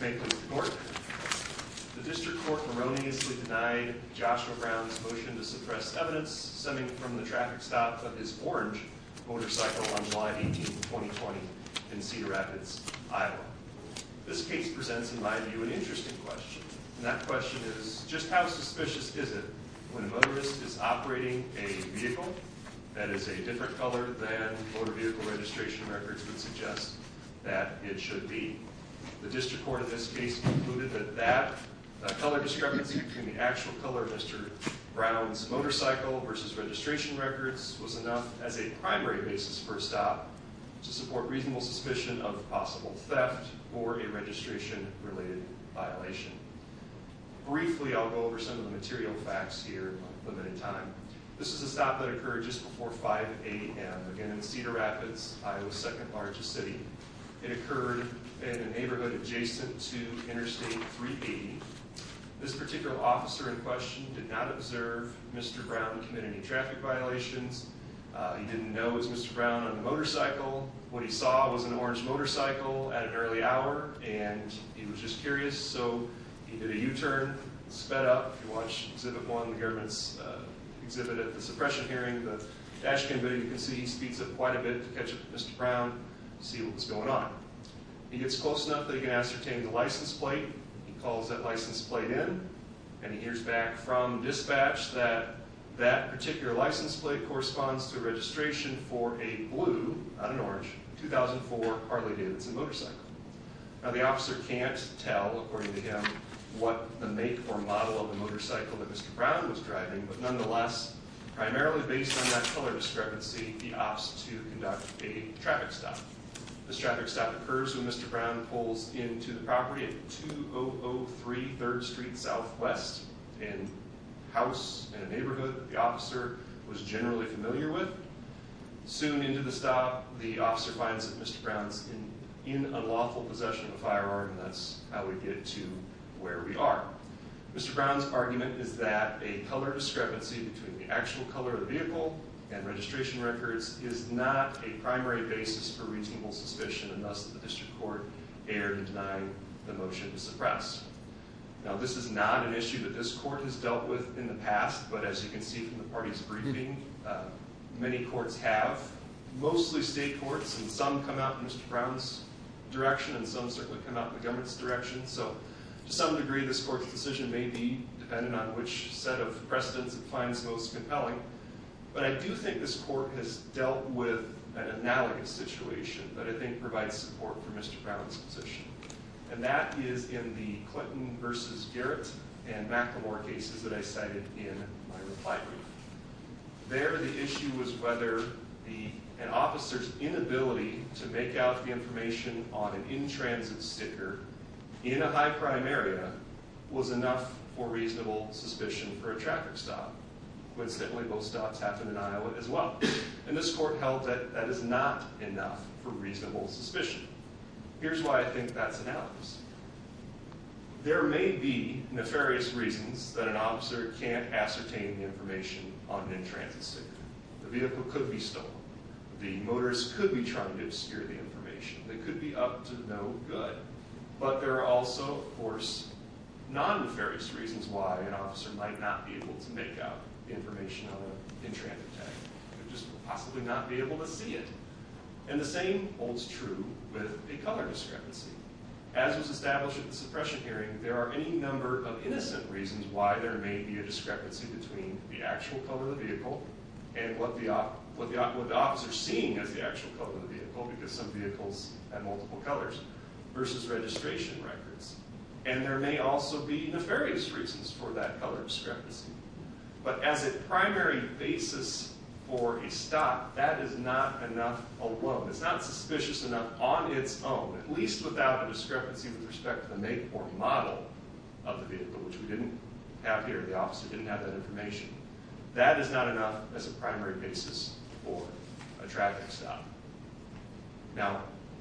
The District Court erroneously denied Joshua Brown's motion to suppress evidence stemming from the traffic stop of his orange motorcycle on July 18, 2020, in Cedar Rapids, Iowa. This case presents, in my view, an interesting question, and that question is, just how suspicious is it when a motorist is operating a vehicle that is a different color than motor vehicle registration records would suggest that it should be? The District Court in this case concluded that that color discrepancy between the actual color of Mr. Brown's motorcycle versus registration records was enough as a primary basis for a stop to support reasonable suspicion of possible theft or a registration-related violation. Briefly I'll go over some of the material facts here in my limited time. This is a stop that occurred just before 5 a.m. again in Cedar Rapids, Iowa's second-largest city. It occurred in a neighborhood adjacent to Interstate 380. This particular officer in question did not observe Mr. Brown commit any traffic violations. He didn't know it was Mr. Brown on a motorcycle. What he saw was an orange motorcycle at an early hour, and he was just curious, so he did a U-turn, sped up. If you watch Exhibit 1, the government's exhibit at the suppression hearing, the dash cam video you can see he speeds up quite a bit to catch up with Mr. Brown to see what was going on. He gets close enough that he can ascertain the license plate. He calls that license plate in, and he hears back from dispatch that that particular license plate corresponds to registration for a blue, not an orange, 2004 Harley-Davidson motorcycle. The officer can't tell, according to him, what the make or model of the motorcycle that Mr. Brown was driving, but nonetheless, primarily based on that color discrepancy, he opts to conduct a traffic stop. This traffic stop occurs when Mr. Brown pulls into the property at 2003 3rd Street Southwest, a house in a neighborhood the officer was generally familiar with. Soon into the stop, the officer finds that Mr. Brown is in unlawful possession of a firearm, and that's how we get to where we are. Mr. Brown's argument is that a color discrepancy between the actual color of the vehicle and registration records is not a primary basis for reasonable suspicion, and thus the district court erred in denying the motion to suppress. Now, this is not an issue that this court has dealt with in the past, but as you can see from the party's briefing, many courts have, mostly state courts, and some come out in Mr. Brown's direction, and some certainly come out in the government's direction, so to some degree, this court's decision may be dependent on which set of precedents it finds most compelling, but I do think this court has dealt with an analogous situation that I think provides support for Mr. Brown's position, and that is in the Clinton versus Garrett and Macklemore cases that I cited in my reply brief. There, the issue was whether an officer's inability to make out the information on an in-transit sticker in a high-crime area was enough for reasonable suspicion for a traffic stop, which certainly most stops happen in Iowa as well, and this court held that that is not enough for reasonable suspicion. Here's why I think that's analogous. There may be nefarious reasons that an officer can't ascertain the information on an in-transit sticker. The vehicle could be stolen, the motorist could be trying to obscure the information, it could be up to no good, but there are also, of course, non-nefarious reasons why an officer might not be able to make out the information on an in-transit tag, just possibly not be able to see it, and the same holds true with a color discrepancy. As was established at the suppression hearing, there are any number of innocent reasons why there may be a discrepancy between the actual color of the vehicle and what the officer is seeing as the actual color of the vehicle, because some vehicles have multiple colors, versus registration records, and there may also be nefarious reasons for that color discrepancy. But as a primary basis for a stop, that is not enough alone. It's not suspicious enough on its own, at least without a discrepancy with respect to the make or model of the vehicle, which we didn't have here. The officer didn't have that information. That is not enough as a primary basis for a traffic stop. Now,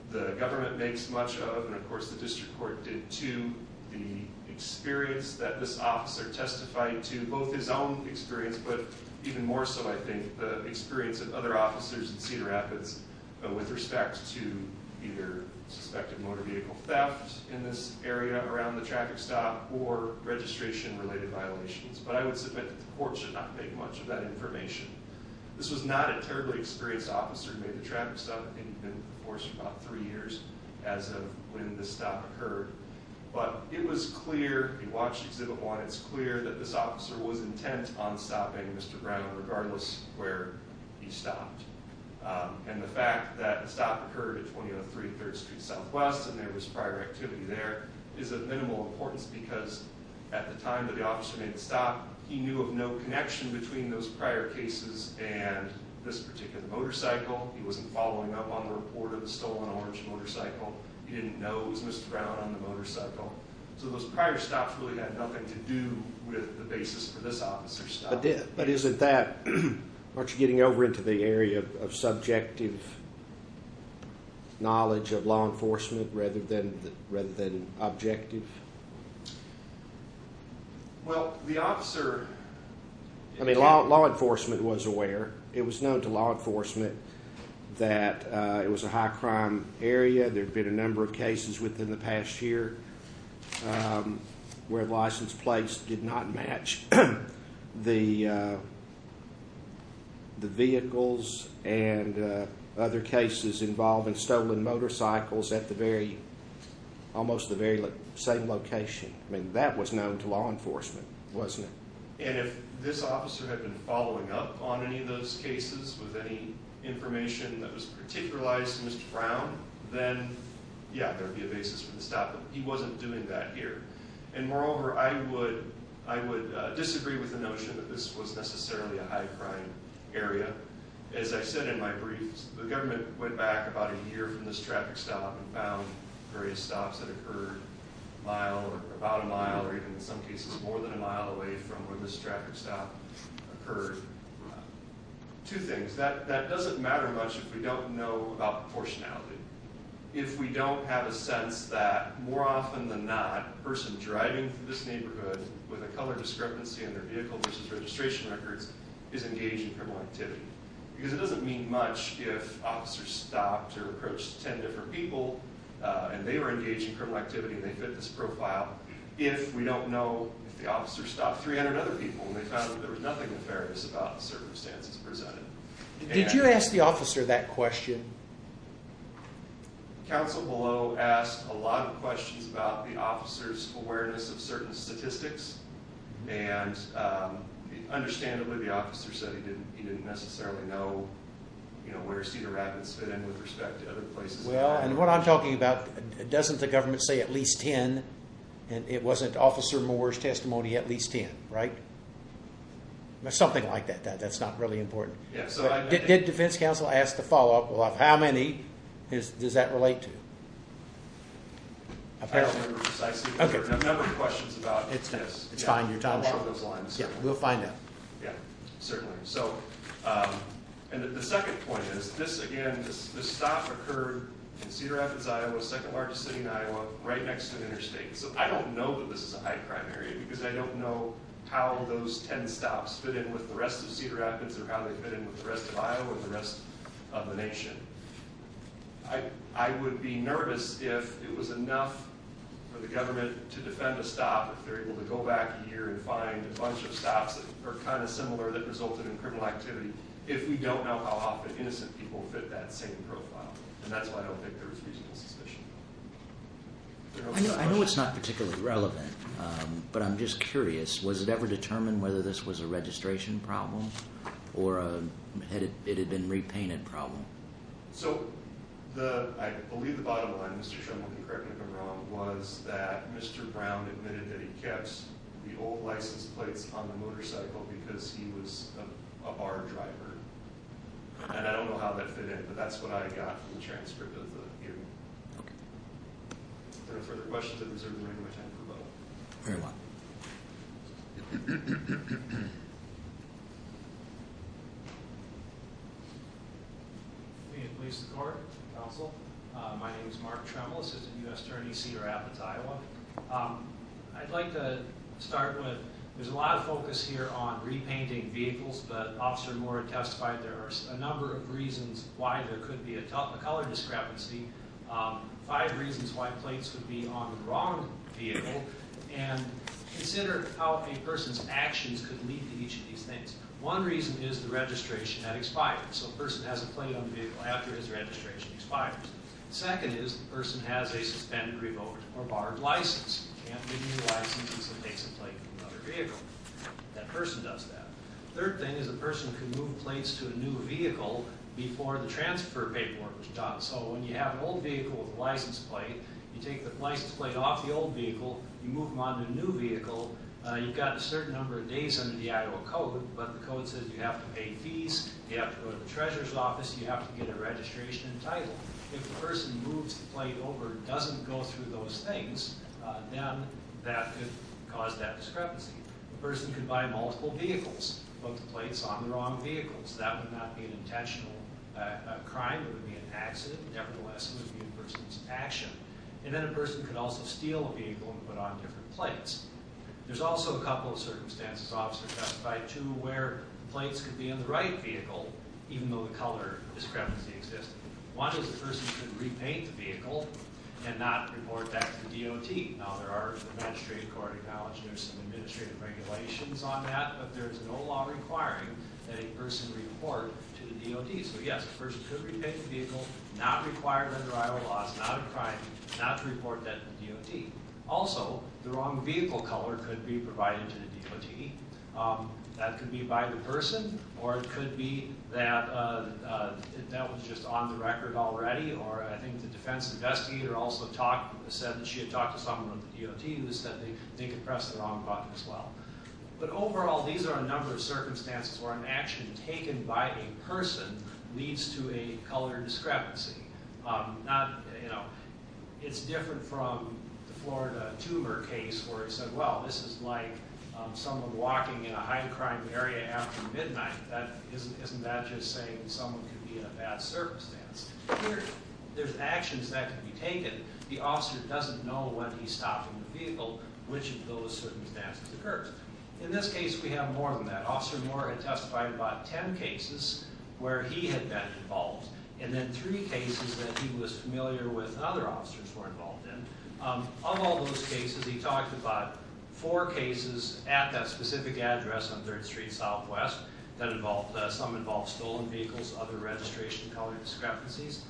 the government makes much of, and of course the district court did too, the experience that this officer testified to, both his own experience, but even more so, I think, the officers in Cedar Rapids with respect to either suspected motor vehicle theft in this area around the traffic stop, or registration-related violations. But I would submit that the court should not make much of that information. This was not a terribly experienced officer who made the traffic stop. I think he'd been with the force for about three years as of when this stop occurred. But it was clear, if you watched Exhibit 1, it's clear that this officer was intent on where he stopped. And the fact that the stop occurred at 2003 3rd Street Southwest and there was prior activity there is of minimal importance because at the time that the officer made the stop, he knew of no connection between those prior cases and this particular motorcycle. He wasn't following up on the report of the stolen orange motorcycle. He didn't know it was Mr. Brown on the motorcycle. So those prior stops really had nothing to do with the basis for this officer's stop. But isn't that... Aren't you getting over into the area of subjective knowledge of law enforcement rather than objective? Well, the officer... I mean, law enforcement was aware. It was known to law enforcement that it was a high-crime area. There have been a number of cases within the past year where license plates did not match the vehicles and other cases involving stolen motorcycles at almost the very same location. I mean, that was known to law enforcement, wasn't it? And if this officer had been following up on any of those cases with any information that was particularized to Mr. Brown, then, yeah, there would be a basis for the stop. But he wasn't doing that here. And moreover, I would disagree with the notion that this was necessarily a high-crime area. As I said in my brief, the government went back about a year from this traffic stop and found various stops that occurred a mile or about a mile or even in some cases more than a mile away from where this traffic stop occurred. Two things. That doesn't matter much if we don't know about proportionality. If we don't have a sense that, more often than not, a person driving through this neighborhood with a color discrepancy in their vehicle versus registration records is engaged in criminal activity. Because it doesn't mean much if officers stopped or approached 10 different people and they were engaged in criminal activity and they fit this profile if we don't know if the officer stopped 300 other people and they found that there was nothing nefarious about the circumstances presented. Did you ask the officer that question? Council below asked a lot of questions about the officer's awareness of certain statistics and understandably the officer said he didn't necessarily know where Cedar Rapids fit in with respect to other places. Well, and what I'm talking about, doesn't the government say at least 10 and it wasn't Officer Moore's testimony at least 10, right? Something like that. That's not really important. Did defense counsel ask the follow-up of how many does that relate to? I don't remember precisely, but there are a number of questions about this. It's fine, your time is short. Yeah, we'll find out. Yeah, certainly. So, and the second point is this again, this stop occurred in Cedar Rapids, Iowa, second largest city in Iowa, right next to an interstate. So I don't know that this is a high crime area because I don't know how those 10 stops fit in with the rest of Cedar Rapids or how they fit in with the rest of Iowa or the rest of the nation. I would be nervous if it was enough for the government to defend a stop if they're able to go back a year and find a bunch of stops that are kind of similar that resulted in criminal activity if we don't know how often innocent people fit that same profile. And that's why I don't think there was reasonable suspicion. I know it's not particularly relevant, but I'm just curious, was it ever determined whether this was a registration problem or it had been a repainted problem? So, I believe the bottom line, Mr. Sherman, correct me if I'm wrong, was that Mr. Brown admitted that he kept the old license plates on the motorcycle because he was a bar driver. And I don't know how that fit in, but that's what I got from the transcript of the hearing. Okay. Are there further questions? I deserve the right to attend for a moment. Very well. Thank you. May it please the court, counsel. My name is Mark Tremble, Assistant U.S. Attorney, Cedar Rapids, Iowa. I'd like to start with, there's a lot of focus here on repainting vehicles, but Officer Moore testified there are a number of reasons why there could be a color discrepancy, five reasons why plates could be on the wrong vehicle. And consider how a person's actions could lead to each of these things. One reason is the registration had expired. So a person has a plate on the vehicle after his registration expires. Second is the person has a suspended, revoked, or barred license. You can't renew a license unless it takes a plate from another vehicle. That person does that. Third thing is a person can move plates to a new vehicle before the transfer paperwork was done. So when you have an old vehicle with a license plate, you take the license plate off the old vehicle, you move them on to a new vehicle, you've got a certain number of days under the Iowa code, but the code says you have to pay fees, you have to go to the treasurer's office, you have to get a registration and title. If the person moves the plate over and doesn't go through those things, then that could cause that discrepancy. A person could buy multiple vehicles, both plates on the wrong vehicles. That would not be an intentional crime, it would be an accident. Nevertheless, it would be a person's action. And then a person could also steal a vehicle and put it on different plates. There's also a couple of circumstances, Officer Testify, too, where plates could be on the right vehicle, even though the color discrepancy exists. One is a person could repaint the vehicle and not report that to the DOT. Now there are, the magistrate court acknowledged there's some administrative regulations on that, but there's no law requiring that a person report to the DOT. So yes, a person could repaint the vehicle, not require under Iowa laws, not a crime, not report that to the DOT. Also, the wrong vehicle color could be provided to the DOT. That could be by the person, or it could be that that was just on the record already, or I think the defense investigator also said that she had talked to someone at the DOT who said they could press the wrong button as well. But overall, these are a number of circumstances where an action taken by a person leads to a color discrepancy. Not, you know, it's different from the Florida Tuber case where it said, well, this is like someone walking in a high crime area after midnight. That, isn't that just saying someone could be in a bad circumstance? There's actions that could be taken. The officer doesn't know when he's stopping the vehicle, which of those circumstances occurred. In this case, we have more than that. Officer Moore had testified about ten cases where he had been involved, and then three cases that he was familiar with and other officers were involved in. Of all those cases, he talked about four cases at that specific address on 3rd Street Southwest that involved, some involved stolen vehicles, other registration color discrepancies.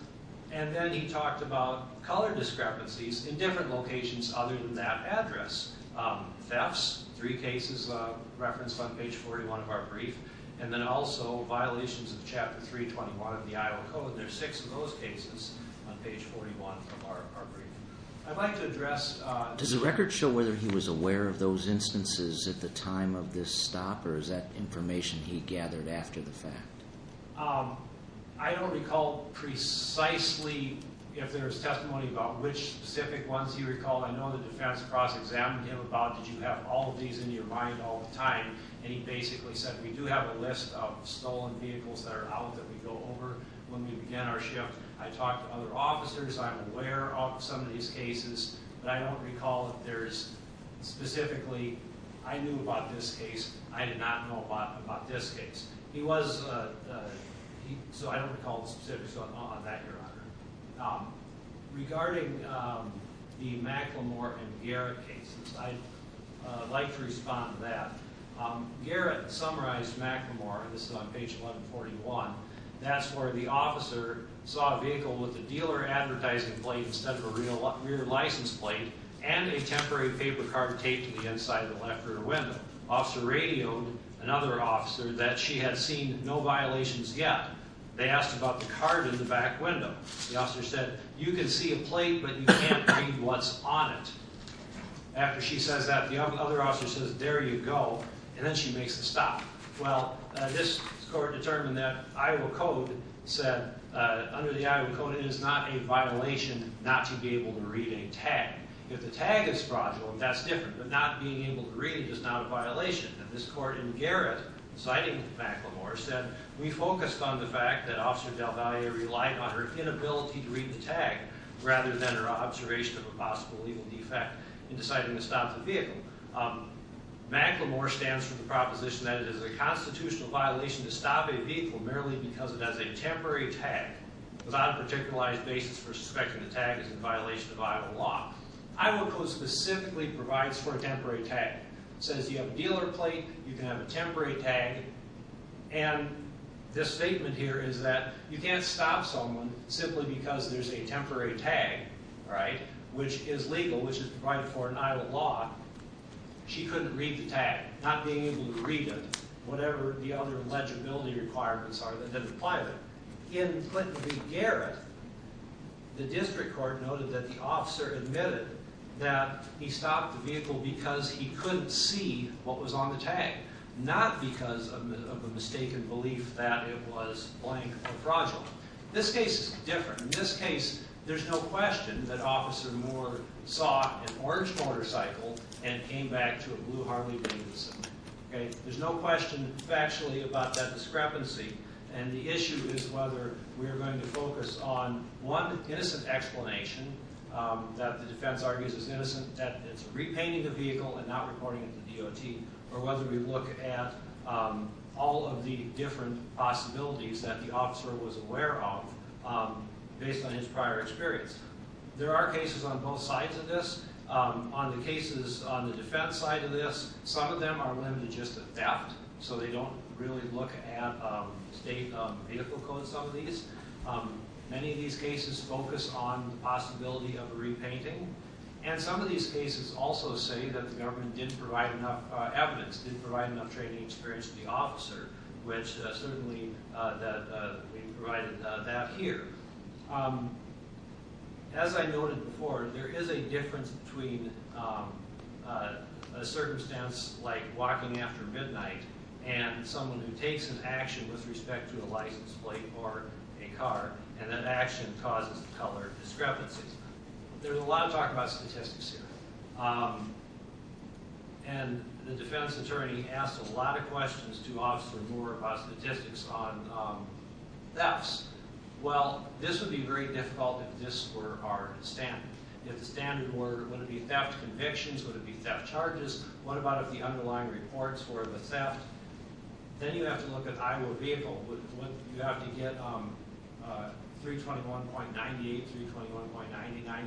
And then he talked about color discrepancies in different locations other than that address. Thefts, three cases referenced on page 41 of our brief. And then also, violations of Chapter 321 of the Iowa Code. There's six of those cases on page 41 of our brief. I'd like to address- Does the record show whether he was aware of those instances at the time of this stop, or is that information he gathered after the fact? I don't recall precisely if there's testimony about which specific ones he recalled. I know the defense cross-examined him about did you have all of these in your mind all the time, and he basically said, we do have a list of stolen vehicles that are out that we go over when we begin our shift. I talked to other officers. I'm aware of some of these cases, but I don't recall if there's specifically, I knew about this case. I did not know about this case. Regarding the McLemore and Garrett cases, I'd like to respond to that. Garrett summarized McLemore, this is on page 1141, that's where the officer saw a vehicle with a dealer advertising plate instead of a rear license plate, and a temporary paper card taped to the inside of the left rear window. Officer radioed another officer that she had seen no violations yet. They asked about the card in the back window. The officer said, you can see a plate, but you can't read what's on it. After she says that, the other officer says, there you go, and then she makes the stop. Well, this court determined that Iowa Code said, under the Iowa Code, it is not a violation not to be able to read a tag. If the tag is fraudulent, that's different, but not being able to read it is not a violation. This court in Garrett, citing McLemore, said, we focused on the fact that Officer DelValle relied on her inability to read the tag rather than her observation of a possible legal defect in deciding to stop the vehicle. McLemore stands for the proposition that it is a constitutional violation to stop a vehicle merely because it has a temporary tag without a particularized basis for suspecting the tag is in violation of Iowa law. Iowa Code specifically provides for a temporary tag. It says you have a dealer plate, you can have a temporary tag, and this statement here is that you can't stop someone simply because there's a temporary tag, right, which is legal, which is provided for in Iowa law. She couldn't read the tag, not being able to read it, whatever the other legibility requirements are that didn't apply there. In Clinton v. Garrett, the district court noted that the officer admitted that he stopped the vehicle because he couldn't see what was on the tag, not because of a mistaken belief that it was, blank, a fraudulent. This case is different. In this case, there's no question that Officer Moore saw an orange motorcycle and came back to a blue Harley Davidson, okay? There's no question factually about that discrepancy, and the issue is whether we are going to focus on one innocent explanation that the defense argues is innocent, that it's repainting the vehicle and not reporting it to DOT, or whether we look at all of the different possibilities that the officer was aware of based on his prior experience. There are cases on both sides of this. On the cases on the defense side of this, some of them are limited just to theft, so they don't really look at state vehicle codes on these. Many of these cases focus on the possibility of a repainting, and some of these cases also say that the government didn't provide enough evidence, didn't provide enough training experience to the officer, which certainly we provided that here. As I noted before, there is a difference between a circumstance like walking after midnight and someone who takes an action with respect to a license plate or a car, and that action causes the color discrepancy. There's a lot of talk about statistics here, and the defense attorney asked a lot of questions to Officer Moore about statistics on thefts. Well, this would be very difficult if this were our standard. If the standard were, would it be theft convictions, would it be theft charges? What about if the underlying reports were the theft? Then you have to look at the Iowa vehicle. You have to get 321.98, 321.99, 321.100.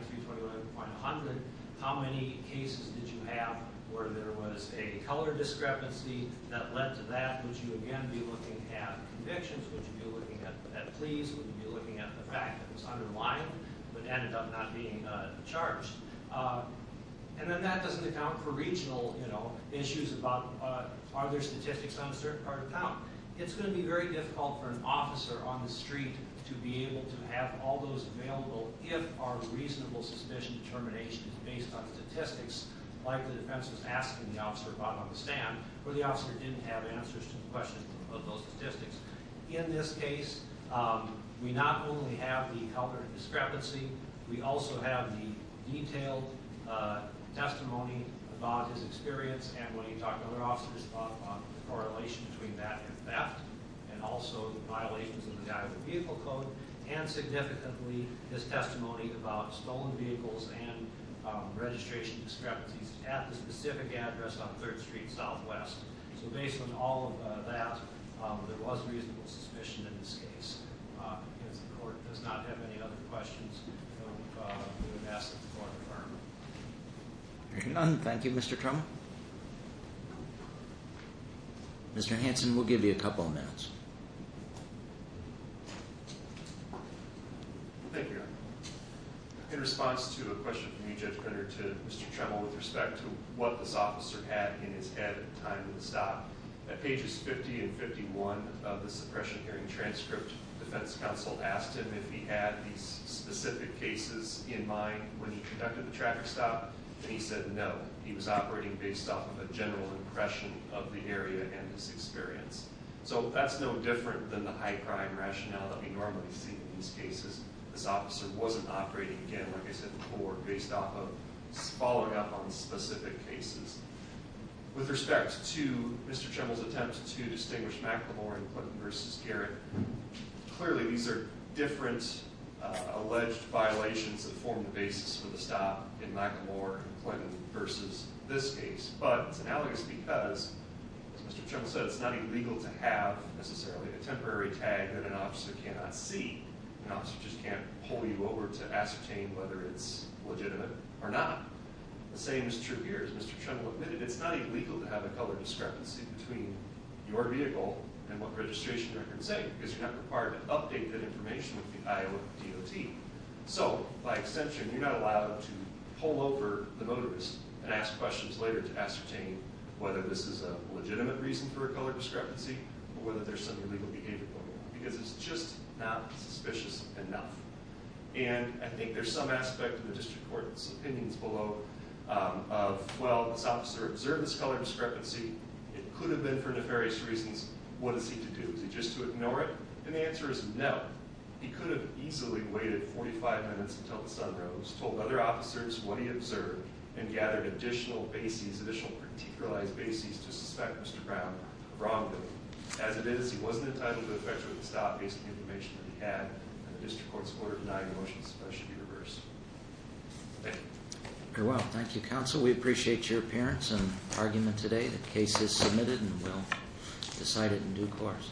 How many cases did you have where there was a color discrepancy that led to that? Would you again be looking at convictions? Would you be looking at pleas? Would you be looking at the fact that it was underlined but ended up not being charged? And then that doesn't account for regional issues about are there statistics on a certain part of town. It's going to be very difficult for an officer on the street to be able to have all those available if our reasonable suspicion determination is based on statistics, like the defense was asking the officer about on the stand, where the officer didn't have answers to the question of those statistics. In this case, we not only have the color discrepancy, we also have the detailed testimony about his experience and when he talked to other officers about the correlation between that and theft, and also the violations of the Iowa Vehicle Code, and significantly his testimony about stolen vehicles and registration discrepancies at the specific address on 3rd Street Southwest. So based on all of that, there was reasonable suspicion in this case. The court does not have any other questions that we would ask of the court of argument. There are none. Thank you, Mr. Tremmel. Mr. Hanson, we'll give you a couple of minutes. Thank you, Your Honor. In response to a question from you, Judge Brenner, to Mr. Tremmel with respect to what this officer had in his head at the time of the stop, at pages 50 and 51 of the suppression hearing transcript, defense counsel asked him if he had these specific cases in mind when he conducted the traffic stop, and he said no. He was operating based off of a general impression of the area and his experience. So that's no different than the high crime rationale that we normally see in these cases. This officer wasn't operating, again, like I said before, based off of, followed up on specific cases. With respect to Mr. Tremmel's attempt to distinguish McLemore and Clinton v. Garrett, clearly these are different alleged violations that form the basis for the stop in McLemore and Clinton v. this case. But it's analogous because, as Mr. Tremmel said, it's not illegal to have, necessarily, a temporary tag that an officer cannot see. An officer just can't pull you over to ascertain whether it's legitimate or not. The same is true here, as Mr. Tremmel admitted. It's not illegal to have a color discrepancy between your vehicle and what registration records say, because you're not required to update that information with the Iowa DOT. So, by extension, you're not allowed to pull over the motorist and ask questions later to ascertain whether this is a legitimate reason for a color discrepancy or whether there's some illegal behavior going on, because it's just not suspicious enough. And I think there's some aspect in the district court's opinions below of, well, this officer observed this color discrepancy. It could have been for nefarious reasons. What is he to do? Is he just to ignore it? And the answer is no. He could have easily waited 45 minutes until the sun rose, told other officers what he observed, and gathered additional bases, additional particularized bases to suspect Mr. Brown wrongly. As it is, he wasn't entitled to a federal stop based on the information that he had and the district court's order to deny the motion, so that should be reversed. Very well. Thank you, counsel. We appreciate your appearance and argument today. The case is submitted and we'll decide it in due course.